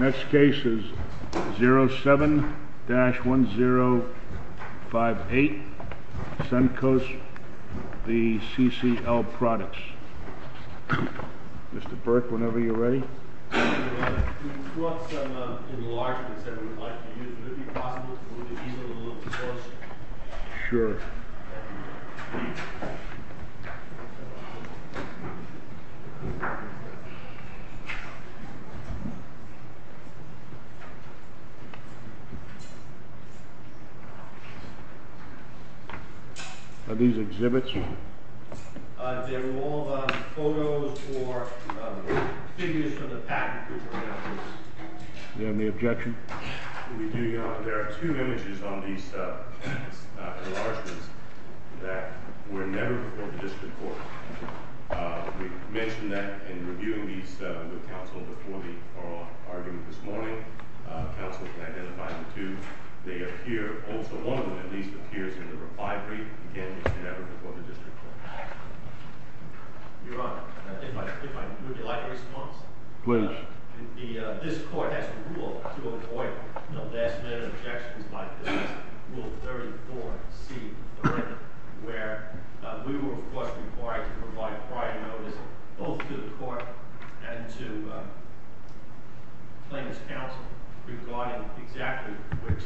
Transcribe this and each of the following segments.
Next case is 07-1058 Suncoast v. CCL Products. Mr. Burke, whenever you're ready. We've got some enlargements that we'd like to use. Would it be possible to look at these a little closer? Sure. Are these exhibits? They're all photos or figures from the past. Do you have any objection? There are two images on these enlargements that were never reported to this report. We mentioned that in reviewing these with counsel before the oral argument this morning. Counsel can identify the two. One of them at least appears in the reply brief. Again, it's never before the district court. Your Honor, if I may, I'd like a response. Please. This court has a rule to avoid last minute objections like this. Rule 34C where we were of course required to provide prior notice both to the court and to plaintiff's counsel regarding exactly which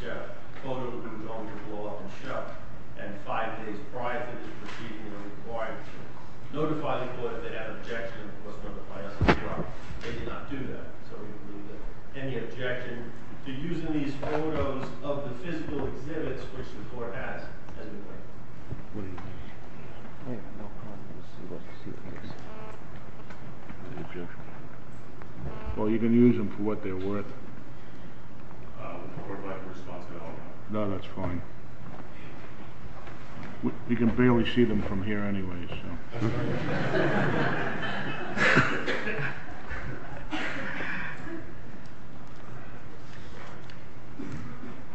photo the group owned, which was blown up and shoved, and five days prior to this proceeding, we were required to notify the court if they had objections. Of course, when the plaintiffs were brought, they did not do that. So we believe that any objection to using these photos of the physical exhibits, which the court has, has been waived. What do you think? I have no problem with this. Well, you can use them for what they're worth. We're not responsible. No, that's fine. You can barely see them from here anyway, so.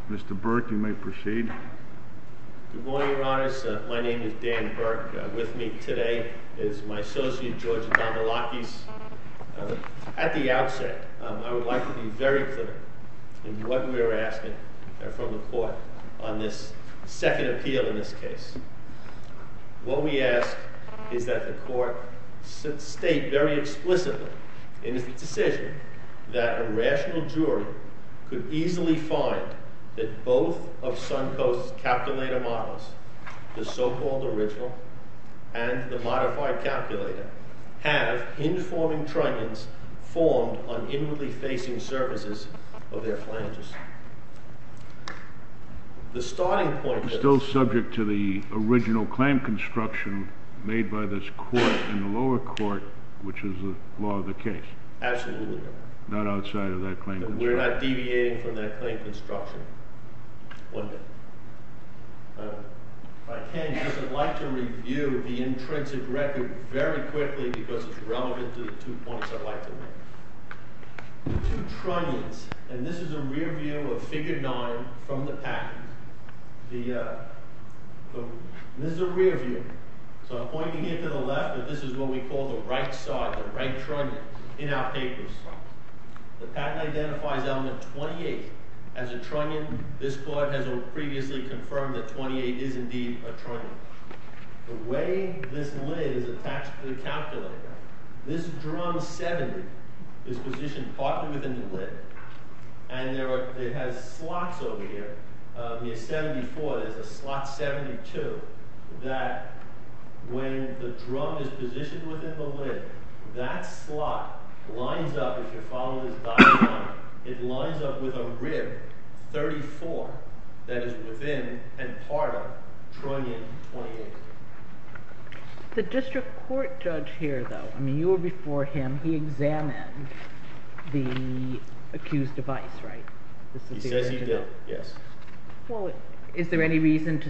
Mr. Burke, you may proceed. Good morning, Your Honors. My name is Dan Burke. With me today is my associate, George Dombolakis. At the outset, I would like to be very clear in what we are asking from the court on this second appeal in this case. What we ask is that the court state very explicitly in its decision that a rational jury could easily find that both of Suncoast's calculator models, the so-called original and the modified calculator, have hinge-forming trunions formed on inwardly facing surfaces of their flanges. The starting point is— Still subject to the original claim construction made by this court in the lower court, which is the law of the case. Absolutely. Not outside of that claim construction. We're not deviating from that claim construction one bit. If I can, I'd like to review the intrinsic record very quickly because it's relevant to the two points I'd like to make. The two trunions, and this is a rear view of Figure 9 from the packet. This is a rear view. So I'm pointing it to the left, but this is what we call the right side, the right trunion. In our papers, the packet identifies element 28 as a trunion. This court has previously confirmed that 28 is indeed a trunion. The way this lid is attached to the calculator, this drum 70 is positioned partly within the lid, and it has slots over here. Near 74, there's a slot 72 that, when the drum is positioned within the lid, that slot lines up, if you follow this diagram, it lines up with a rib 34 that is within and part of trunion 28. The district court judge here, though, I mean, you were before him, he examined the accused device, right? He says he did, yes. Well, is there any reason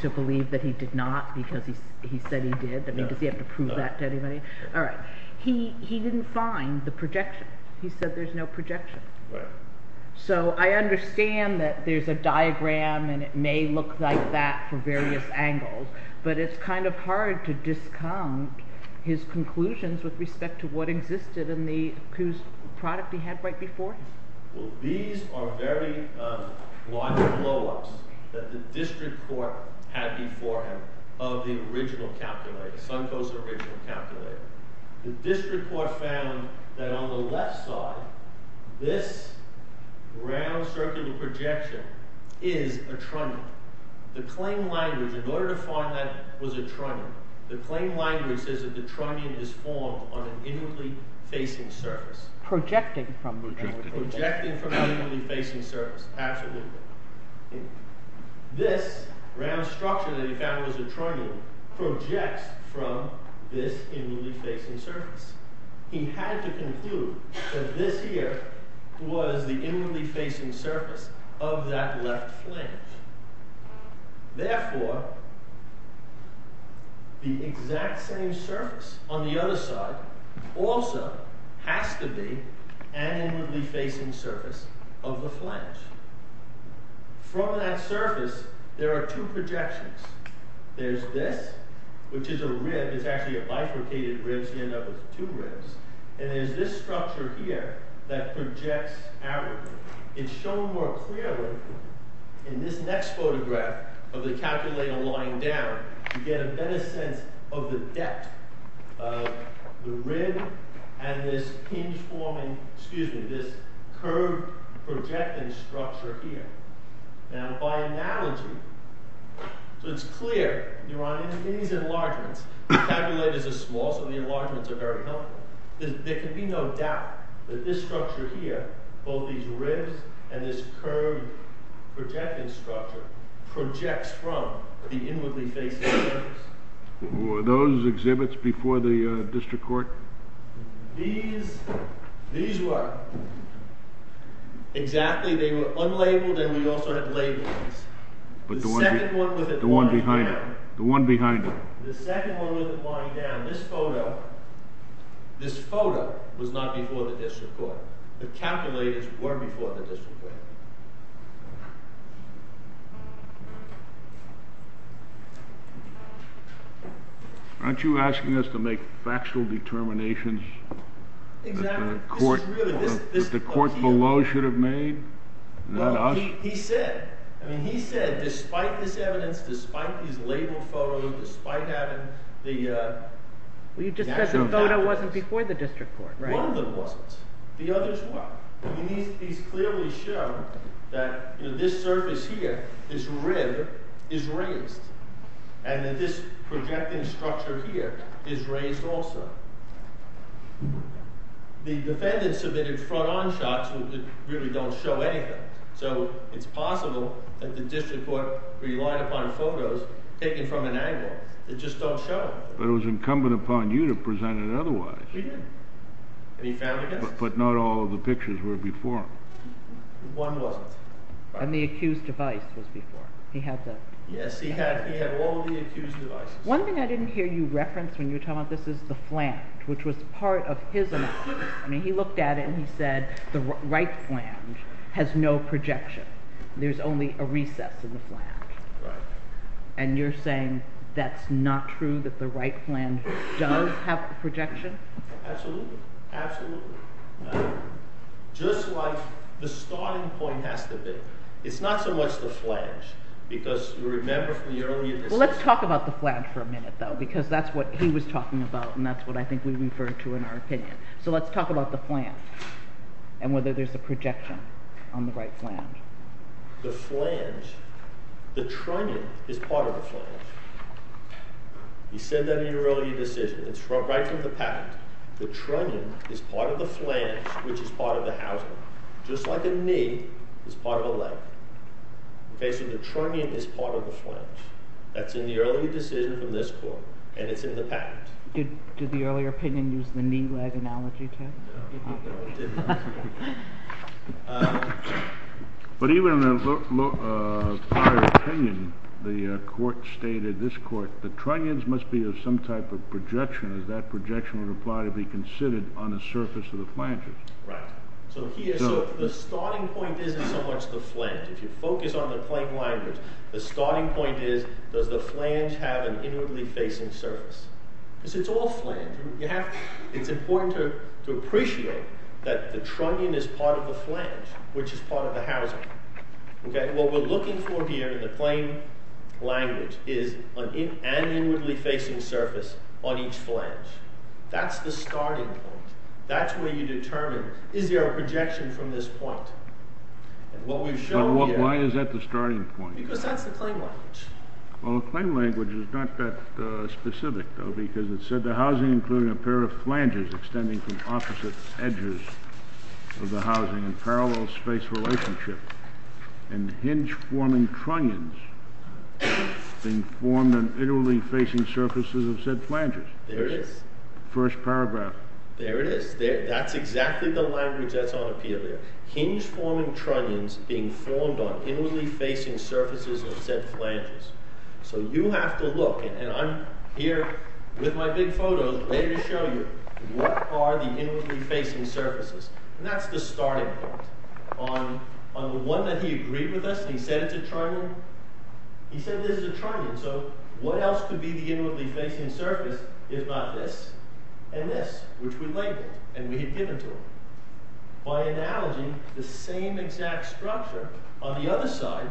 to believe that he did not because he said he did? No. We don't have to prove that to anybody. All right. He didn't find the projection. He said there's no projection. Right. So I understand that there's a diagram and it may look like that from various angles, but it's kind of hard to disconnect his conclusions with respect to what existed in the accused product he had right before him. Well, these are very large blow-ups that the district court had before him of the original calculator, Suncoast original calculator. The district court found that on the left side, this round circular projection is a trunion. The claim language, in order to find that it was a trunion, the claim language says that the trunion is formed on an inwardly facing surface. Projecting from the trunion. Projecting from the inwardly facing surface. Absolutely. This round structure that he found was a trunion projects from this inwardly facing surface. He had to conclude that this here was the inwardly facing surface of that left flange. Therefore, the exact same surface on the other side also has to be an inwardly facing surface of the flange. From that surface, there are two projections. There's this, which is a rib. It's actually a bifurcated rib. You end up with two ribs. And there's this structure here that projects outward. It's shown more clearly in this next photograph of the calculator lying down. You get a better sense of the depth of the rib and this curved projecting structure here. Now, by analogy, it's clear in these enlargements, the calculators are small, so the enlargements are very helpful. There can be no doubt that this structure here, both these ribs and this curved projecting structure, projects from the inwardly facing surface. Were those exhibits before the district court? These were. Exactly. They were unlabeled and we also had labels. The second one with it lying down. The one behind it. The second one with it lying down. This photo was not before the district court. The calculators were before the district court. Aren't you asking us to make factual determinations that the court below should have made? He said, despite this evidence, despite these labeled photos, despite having the... You just said the photo wasn't before the district court. One of them wasn't. The others were. These clearly show that this surface here, this rib, is raised and that this projecting structure here is raised also. The defendant submitted front-on shots that really don't show anything, so it's possible that the district court relied upon photos taken from an angle that just don't show. But it was incumbent upon you to present it otherwise. We did, and he found it. But not all of the pictures were before him. One wasn't. And the accused device was before him. Yes, he had all the accused devices. One thing I didn't hear you reference when you were talking about this is the flange, which was part of his analysis. He looked at it and he said, the right flange has no projection. There's only a recess in the flange. And you're saying that's not true, that the right flange does have projection? Absolutely. Absolutely. Just like the starting point has to be. It's not so much the flange, because you remember from the earlier decision. Well, let's talk about the flange for a minute, though, because that's what he was talking about and that's what I think we refer to in our opinion. So let's talk about the flange and whether there's a projection on the right flange. The flange, the trunnion is part of the flange. He said that in your earlier decision. It's right from the patent. The trunnion is part of the flange, which is part of the housing. Just like a knee is part of a leg. Basically, the trunnion is part of the flange. That's in the earlier decision from this court, and it's in the patent. Did the earlier opinion use the knee-leg analogy, too? No, it didn't. But even in my opinion, the court stated, this court, the trunnions must be of some type of projection, as that projection would apply to be considered on the surface of the flanges. Right. So the starting point isn't so much the flange. If you focus on the plain language, the starting point is, does the flange have an inwardly facing surface? Because it's all flange. It's important to appreciate that the trunnion is part of the flange, which is part of the housing. What we're looking for here in the plain language is an inwardly facing surface on each flange. That's the starting point. That's where you determine, is there a projection from this point? Why is that the starting point? Because that's the plain language. Well, the plain language is not that specific, though, because it said the housing included a pair of flanges extending from opposite edges of the housing in parallel space relationship, and hinge-forming trunnions being formed on inwardly facing surfaces of said flanges. There it is. First paragraph. There it is. That's exactly the language that's on appeal there. Hinge-forming trunnions being formed on inwardly facing surfaces of said flanges. So you have to look, and I'm here with my big photos, ready to show you what are the inwardly facing surfaces. And that's the starting point. On the one that he agreed with us, and he said it's a trunnion, he said this is a trunnion, so what else could be the inwardly facing surface if not this and this, which we labeled, and we had given to him. By analogy, the same exact structure on the other side,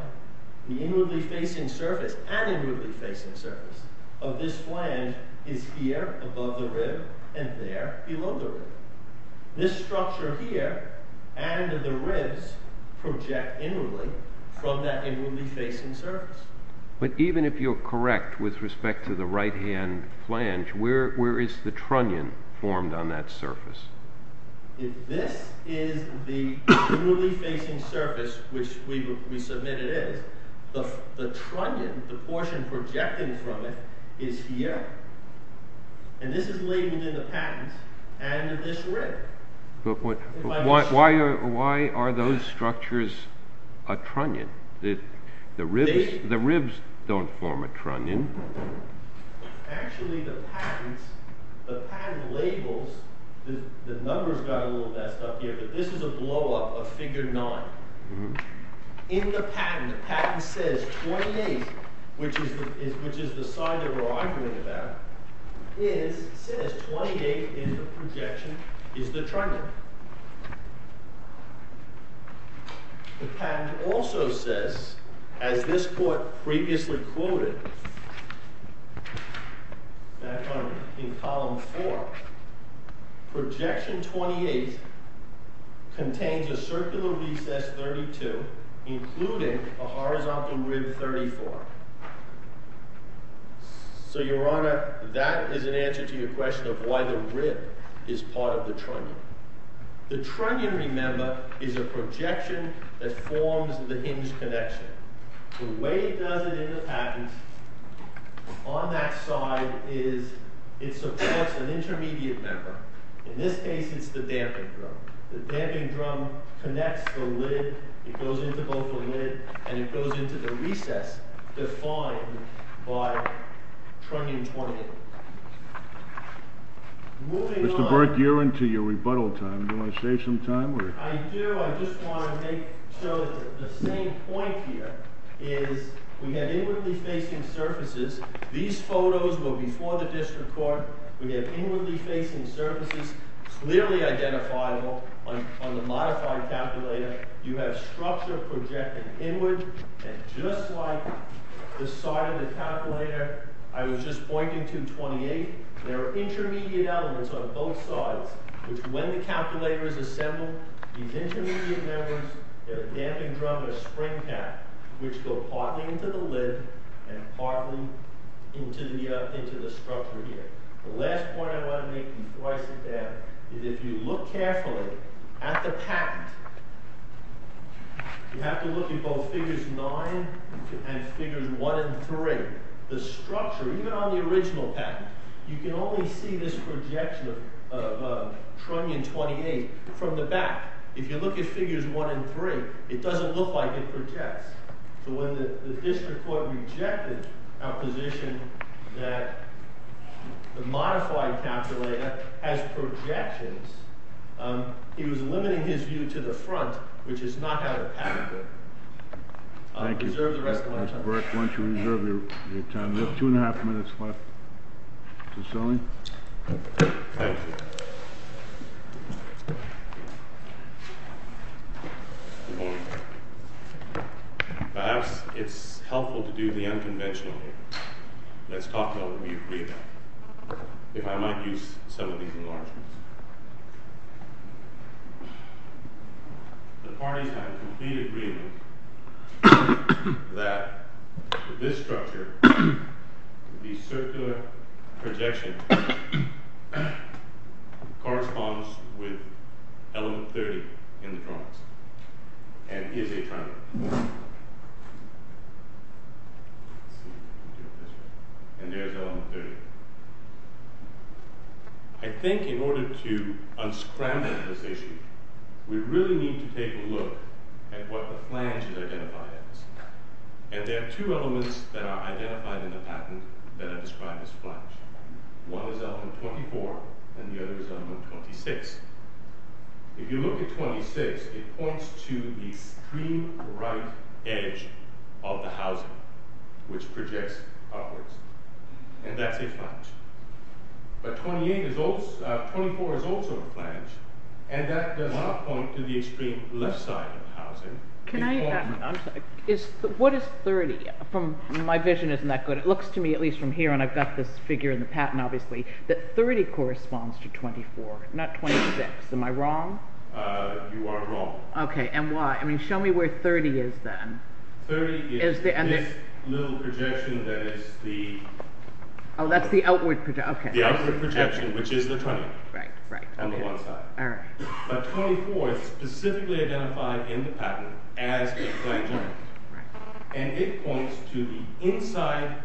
the inwardly facing surface, and inwardly facing surface of this flange is here above the rib and there below the rib. This structure here and the ribs project inwardly from that inwardly facing surface. But even if you're correct with respect to the right-hand flange, where is the trunnion formed on that surface? If this is the inwardly facing surface which we submit it is, the trunnion, the portion projecting from it, is here. And this is labeled in the patents, and this rib. But why are those structures a trunnion? The ribs don't form a trunnion. Actually, the patents, the patent labels, the numbers got a little messed up here, but this is a blow-up of Figure 9. In the patent, the patent says 28, which is the side that we're arguing about, says 28 is the projection, is the trunnion. The patent also says, as this court previously quoted, back in Column 4, projection 28 contains a circular recess 32, including a horizontal rib 34. So, Your Honor, that is an answer to your question of why the rib is part of the trunnion. The trunnion, remember, is a projection that forms the hinged connection. The way it does it in the patent, on that side, it supports an intermediate member. In this case, it's the damping drum. The damping drum connects the lid, it goes into both the lid and it goes into the recess defined by trunnion 28. Moving on... Mr. Burke, you're into your rebuttal time. Do you want to save some time? I do. I just want to make sure that the same point here is we have inwardly facing surfaces. These photos were before the district court. We have inwardly facing surfaces, clearly identifiable on the modified calculator. You have structure projected inward, and just like the side of the calculator I was just pointing to, 28, there are intermediate elements on both sides, which, when the calculator is assembled, these intermediate members, the damping drum and the spring cap, which go partly into the lid and partly into the structure here. The last point I want to make before I sit down is if you look carefully at the patent, you have to look at both figures 9 and figures 1 and 3. The structure, even on the original patent, you can only see this projection of trunnion 28 from the back. If you look at figures 1 and 3, it doesn't look like it projects. So when the district court rejected our position that the modified calculator has projections, he was limiting his view to the front, which is not how the patent works. Thank you. Reserve the rest of my time. Mr. Burke, why don't you reserve your time. We have two and a half minutes left. Mr. Stanley? Thank you. Good morning. Perhaps it's helpful to do the unconventional here. Let's talk about what we agreed on. If I might use some of these enlargements. The parties have a complete agreement that this structure, the circular projection, corresponds with element 30 in the trunnions and is a trunnion. And there's element 30. I think in order to unscramble this issue, we really need to take a look at what the flange is identified as. And there are two elements that are identified in the patent that are described as flange. One is element 24, and the other is element 26. If you look at 26, it points to the extreme right edge of the housing, which projects upwards. And that's a flange. But 24 is also a flange, and that does not point to the extreme left side of the housing. What is 30? My vision isn't that good. It looks to me, at least from here, and I've got this figure in the patent obviously, that 30 corresponds to 24, not 26. Am I wrong? You are wrong. Okay, and why? Show me where 30 is then. 30 is this little projection that is the... Oh, that's the outward projection. The outward projection, which is the trunnion. Right, right. On the one side. But 24 is specifically identified in the patent as a flange element. And it points to the inside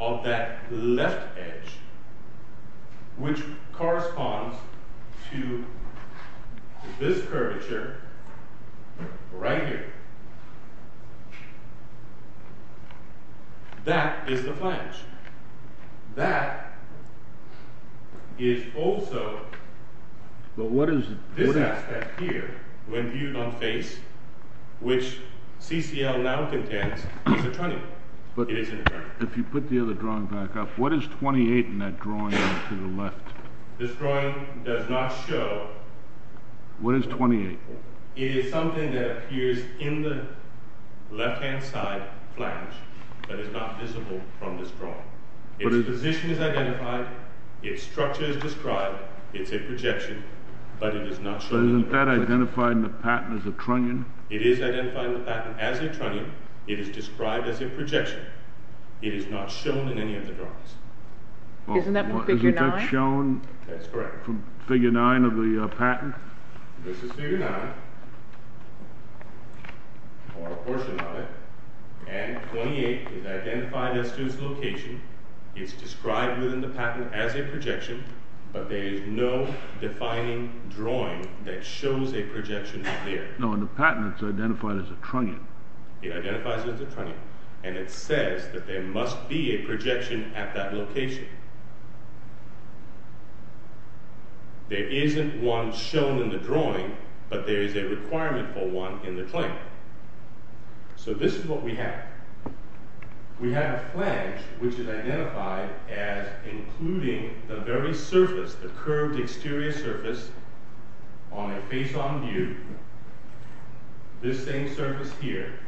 of that left edge, which corresponds to this curvature right here. That is the flange. That is also this aspect here, when viewed on face, which CCL now contends is a trunnion. It is a trunnion. If you put the other drawing back up, what is 28 in that drawing to the left? This drawing does not show... What is 28? It is something that appears in the left-hand side flange, but is not visible from this drawing. Its position is identified. Its structure is described. It's a projection, but it is not shown in the projection. Isn't that identified in the patent as a trunnion? It is identified in the patent as a trunnion. It is described as a projection. It is not shown in any of the drawings. Isn't that figure 9? Isn't that shown from figure 9 of the patent? This is figure 9, or a portion of it. And 28 is identified as to its location. It is described within the patent as a projection, but there is no defining drawing that shows a projection there. No, in the patent it is identified as a trunnion. It identifies as a trunnion, and it says that there must be a projection at that location. There isn't one shown in the drawing, but there is a requirement for one in the claim. So this is what we have. We have a flange, which is identified as including the very surface, the curved exterior surface, on a face-on view. This same surface here,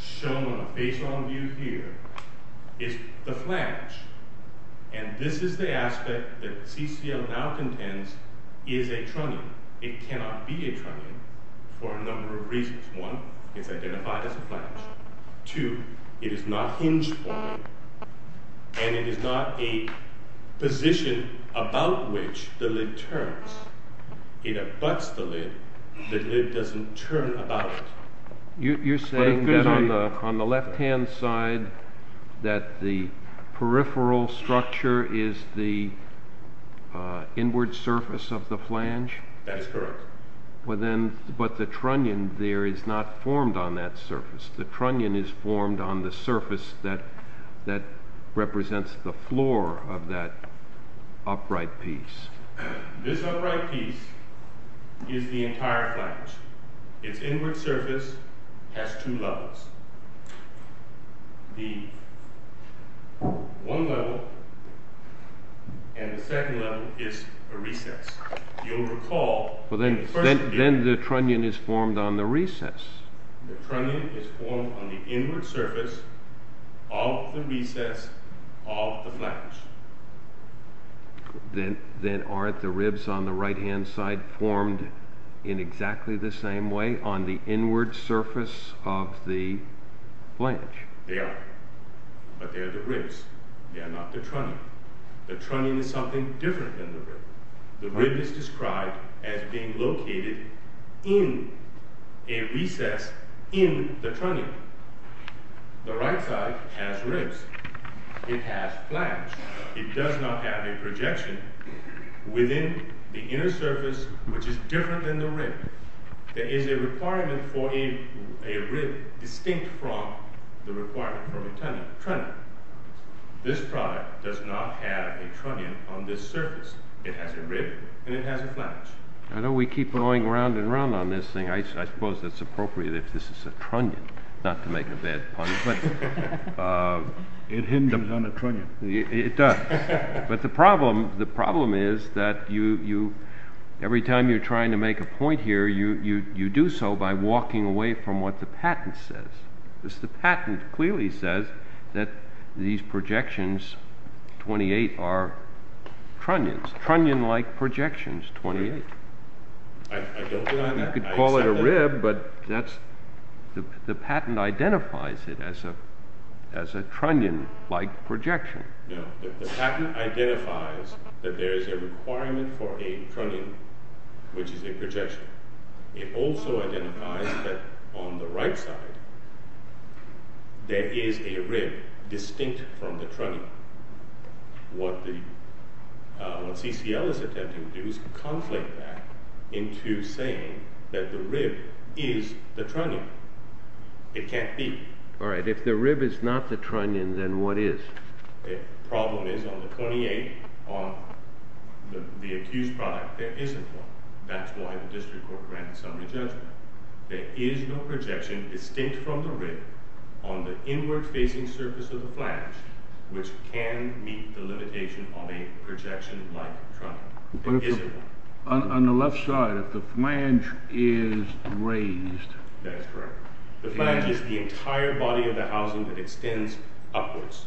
shown on a face-on view here, is the flange. And this is the aspect that CCL now contends is a trunnion. It cannot be a trunnion for a number of reasons. One, it's identified as a flange. Two, it is not hinge-formed, and it is not a position about which the lid turns. It abuts the lid. The lid doesn't turn about it. You're saying that on the left-hand side, that the peripheral structure is the inward surface of the flange? That is correct. But the trunnion there is not formed on that surface. The trunnion is formed on the surface that represents the floor of that upright piece. This upright piece is the entire flange. Its inward surface has two levels. The one level and the second level is a recess. You'll recall... Then the trunnion is formed on the recess. The trunnion is formed on the inward surface of the recess of the flange. Then aren't the ribs on the right-hand side formed in exactly the same way, on the inward surface of the flange? They are. But they are the ribs. They are not the trunnion. The trunnion is something different than the rib. The rib is described as being located in a recess in the trunnion. The right side has ribs. It has flange. It does not have a projection within the inner surface, which is different than the rib. There is a requirement for a rib distinct from the requirement for a trunnion. This product does not have a trunnion on this surface. It has a rib and it has a flange. I know we keep going round and round on this thing. I suppose it's appropriate if this is a trunnion, not to make a bad pun, but... It hinges on a trunnion. It does. But the problem is that you... you do so by walking away from what the patent says. Because the patent clearly says that these projections, 28, are trunnions. Trunnion-like projections, 28. I don't believe that. You could call it a rib, but that's... The patent identifies it as a trunnion-like projection. No, the patent identifies that there is a requirement for a trunnion, which is a projection. It also identifies that on the right side there is a rib distinct from the trunnion. What CCL is attempting to do is conflate that into saying that the rib is the trunnion. It can't be. All right, if the rib is not the trunnion, then what is? The problem is on the 28, on the accused product, there isn't one. That's why the district court granted summary judgment. There is no projection distinct from the rib on the inward-facing surface of the flange, which can meet the limitation of a projection-like trunnion. There isn't one. On the left side, if the flange is raised... That is correct. The flange is the entire body of the housing that extends upwards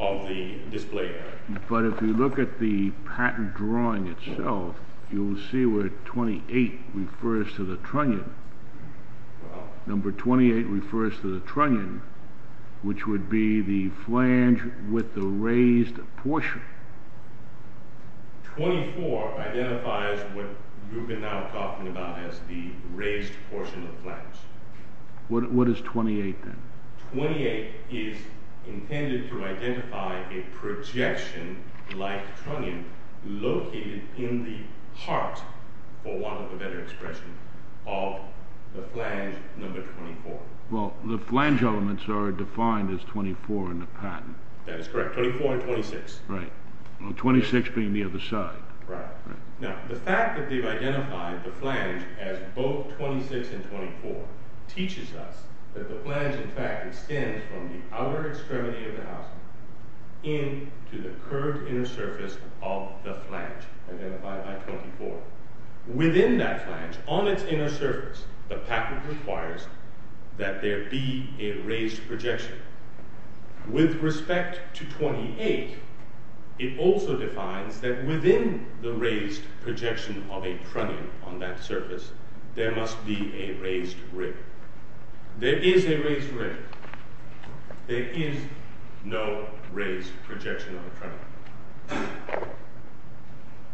of the display area. But if you look at the patent drawing itself, you will see where 28 refers to the trunnion. Number 28 refers to the trunnion, which would be the flange with the raised portion. 24 identifies what you've been now talking about as the raised portion of the flange. What is 28, then? 28 is intended to identify a projection-like trunnion located in the heart, for want of a better expression, of the flange number 24. Well, the flange elements are defined as 24 in the patent. That is correct, 24 and 26. 26 being the other side. Right. Now, the fact that they've identified the flange as both 26 and 24 teaches us that the flange, in fact, extends from the outer extremity of the housing into the curved inner surface of the flange, identified by 24. Within that flange, on its inner surface, the patent requires that there be a raised projection. With respect to 28, it also defines that within the raised projection of a trunnion on that surface, there must be a raised ridge. There is a raised ridge. There is no raised projection on the trunnion.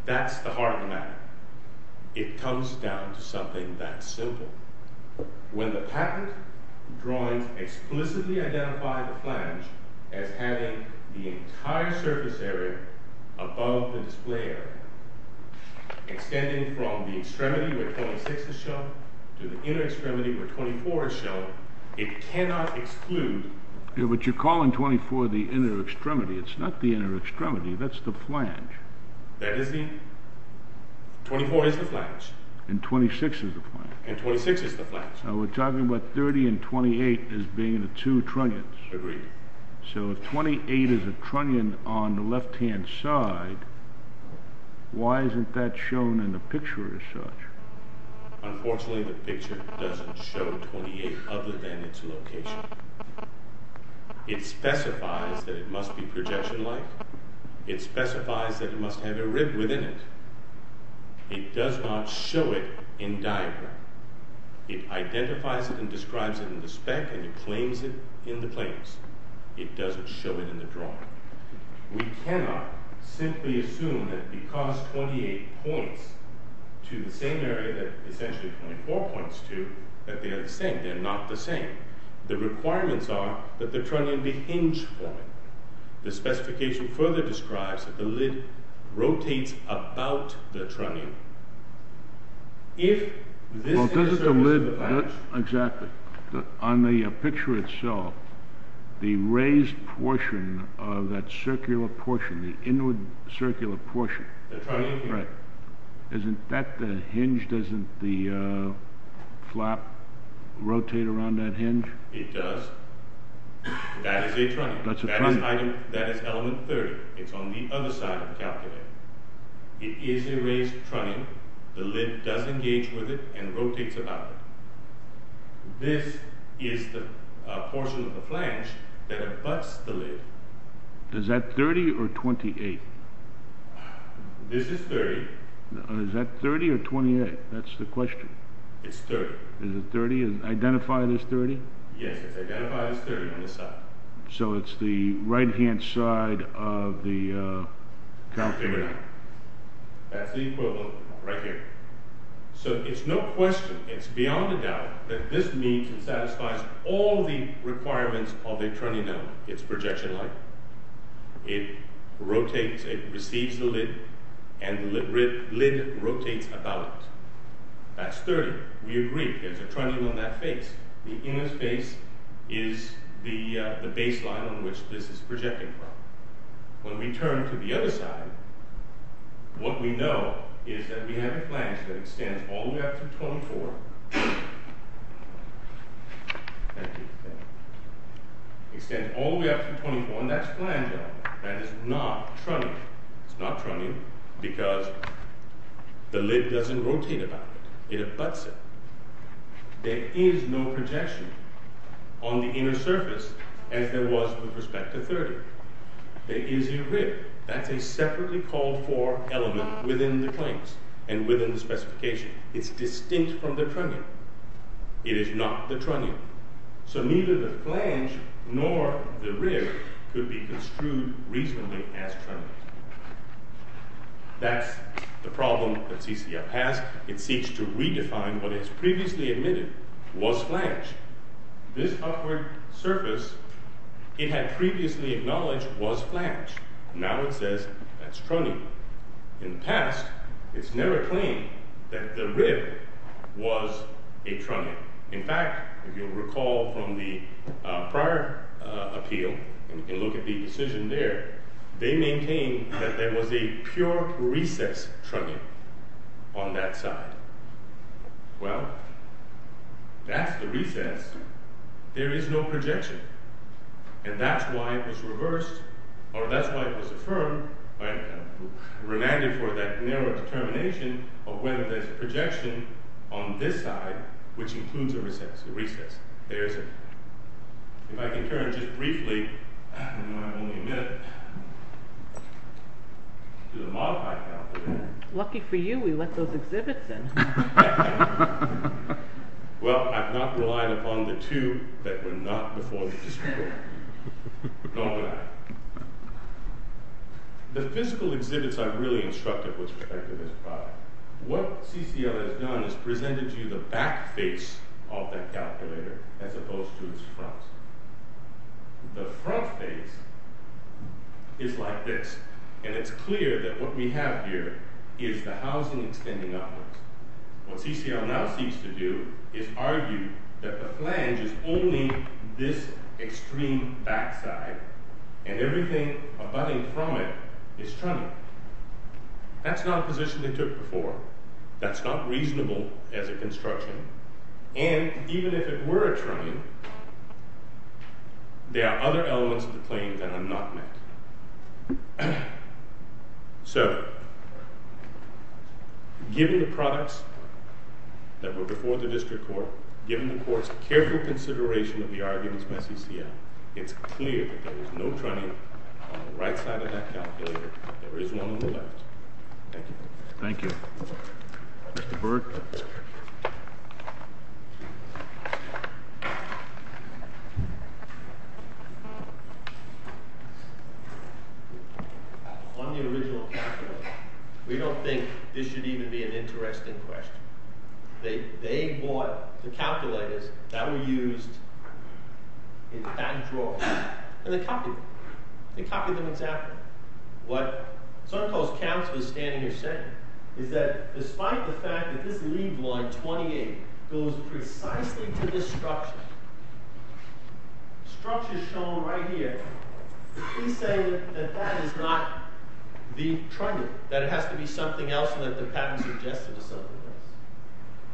That's the heart of the matter. It comes down to something that simple. When the patent drawings explicitly identify the flange as having the entire surface area above the display area, extending from the extremity where 26 is shown to the inner extremity where 24 is shown, it cannot exclude... But you're calling 24 the inner extremity. It's not the inner extremity. That's the flange. That is the... 24 is the flange. And 26 is the flange. And 26 is the flange. Now, we're talking about 30 and 28 as being the two trunnions. Agreed. So if 28 is a trunnion on the left-hand side, why isn't that shown in the picture as such? Unfortunately, the picture doesn't show 28 other than its location. It specifies that it must be projection-like. It specifies that it must have a rib within it. It does not show it in diagram. It identifies it and describes it in the spec, and it claims it in the claims. It doesn't show it in the drawing. We cannot simply assume that because 28 points to the same area that essentially 24 points to, that they are the same. They're not the same. The requirements are that the trunnion be hinged for it. The specification further describes that the lid rotates about the trunnion. If this is the surface of the flange... Well, doesn't the lid... Exactly. On the picture itself, the raised portion of that circular portion, the inward circular portion... The trunnion hinge. Right. Isn't that the hinge? Doesn't the flap rotate around that hinge? It does. That is a trunnion. That's a trunnion. That is element 30. It's on the other side of the calculator. It is a raised trunnion. The lid does engage with it and rotates about it. This is the portion of the flange that abuts the lid. Is that 30 or 28? This is 30. Is that 30 or 28? That's the question. It's 30. Is it 30? Is it identified as 30? Yes, it's identified as 30 on this side. So it's the right-hand side of the calculator. That's the equivalent right here. So it's no question, it's beyond a doubt, that this means it satisfies all the requirements of a trunnion element. It's projection line. It rotates, it receives the lid, and the lid rotates about it. That's 30. We agree. There's a trunnion on that face. The inner space is the baseline on which this is projecting from. When we turn to the other side, what we know is that we have a flange that extends all the way up to 24. It extends all the way up to 24, and that's flange-only. Flange is not trunnion. It's not trunnion because the lid doesn't rotate about it. It abuts it. There is no projection on the inner surface as there was with respect to 30. There is a rib. That's a separately called for element within the claims and within the specification. It's distinct from the trunnion. It is not the trunnion. So neither the flange nor the rib could be construed reasonably as trunnions. That's the problem that CCF has. It seeks to redefine what it has previously admitted was flange. This upward surface it had previously acknowledged was flange. Now it says that's trunnion. In the past, it's never claimed that the rib was a trunnion. In fact, if you'll recall from the prior appeal, and you can look at the decision there, they maintain that there was a pure recess trunnion on that side. Well, that's the recess. There is no projection. And that's why it was reversed, or that's why it was affirmed, remanded for that narrow determination of whether there's projection on this side which includes a recess. There is it. If I can turn just briefly, I only have a minute, to the modified calculation. Lucky for you, we let those exhibits in. Well, I've not relied upon the two that were not before the discussion. Nor will I. The physical exhibits I've really instructed with respect to this product. What CCL has done is presented to you the back face of that calculator as opposed to its front. The front face is like this. And it's clear that what we have here is the housing extending upwards. What CCL now seeks to do is argue that the flange is only this extreme backside, and everything abutting from it is trunnion. That's not a position they took before. That's not reasonable as a construction. And even if it were a trunnion, there are other elements of the plane that are not met. So, given the products that were before the district court, given the court's careful consideration of the arguments by CCL, it's clear that there is no trunnion on the right side of that calculator. There is one on the left. Thank you. Thank you. Mr. Berg. On the original calculator, we don't think this should even be an interesting question. They bought the calculators that were used in that drawing, and they copied them. They copied them exactly. What Suncoast Council is standing here saying is that despite the fact that this lead line 28 goes precisely to this structure, structure shown right here, we say that that is not the trunnion, that it has to be something else, and that the patent suggested to something else.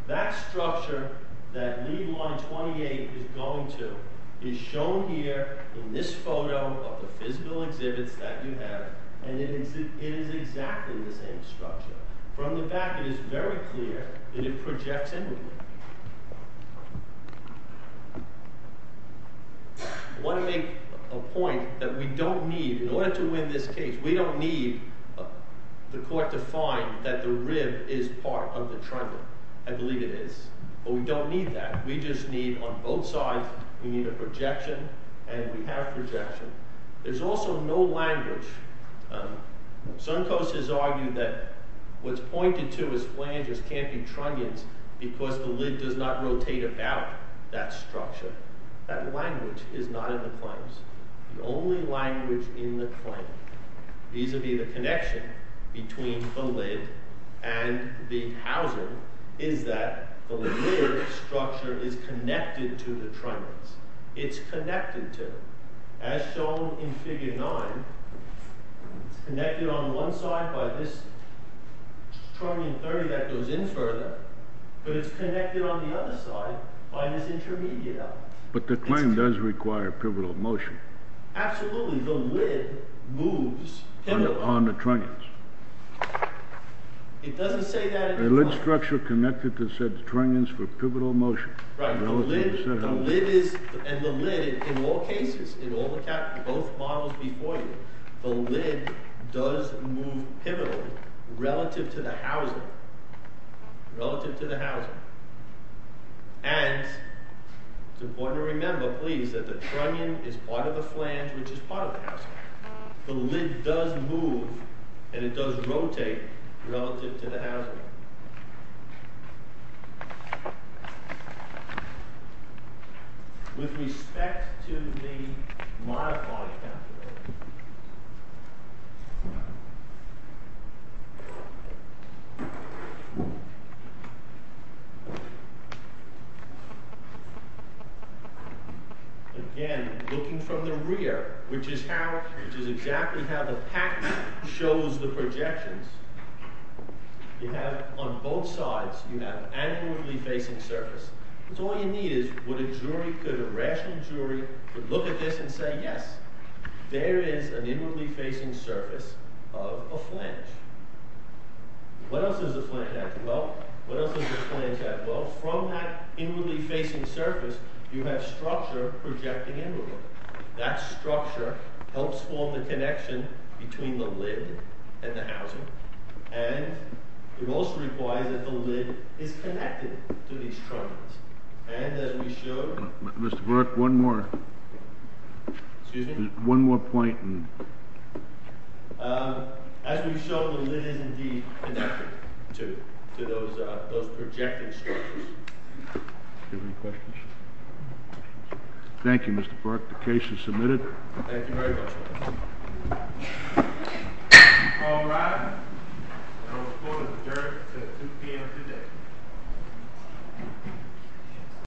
That structure that lead line 28 is going to is shown here in this photo of the physical exhibits that you have, and it is exactly the same structure. From the back, it is very clear that it projects inward. I want to make a point that we don't need, in order to win this case, we don't need the court to find that the rib is part of the trunnion. I believe it is. But we don't need that. We just need, on both sides, we need a projection, and we have projection. There's also no language. Suncoast has argued that what's pointed to as flanges can't be trunnions because the lead does not rotate about that structure. That language is not in the claims. The only language in the claim, vis-a-vis the connection between the lead and the housing, is that the lead structure is connected to the trunnions. It's connected to. As shown in Figure 9, it's connected on one side by this trunnion that goes in further, but it's connected on the other side by this intermediate element. But the claim does require pivotal motion. Absolutely. The lead moves on the trunnions. It doesn't say that in the claim. The lead structure connected to said trunnions for pivotal motion. Right. And the lead, in all cases, in both models before you, the lead does move pivotally relative to the housing. Relative to the housing. And it's important to remember, please, that the trunnion is part of the flange, which is part of the housing. The lead does move, and it does rotate relative to the housing. With respect to the modified counterweight. Again, looking from the rear, which is exactly how the pattern shows the projections, you have, on both sides, you have angularly facing surface. So all you need is, would a jury, a rational jury, would look at this and say, yes, there is an inwardly facing surface of a flange. What else does the flange have? Well, from that inwardly facing surface, you have structure projecting inward. That structure helps form the connection between the lead and the housing. And it also requires that the lead is connected to these trunnions. And as we show... Mr. Burke, one more. Excuse me? One more point. As we show, the lead is indeed connected to those projecting structures. Any questions? Thank you, Mr. Burke. The case is submitted. Thank you very much. All rise. I will call the jury at 2 p.m. today.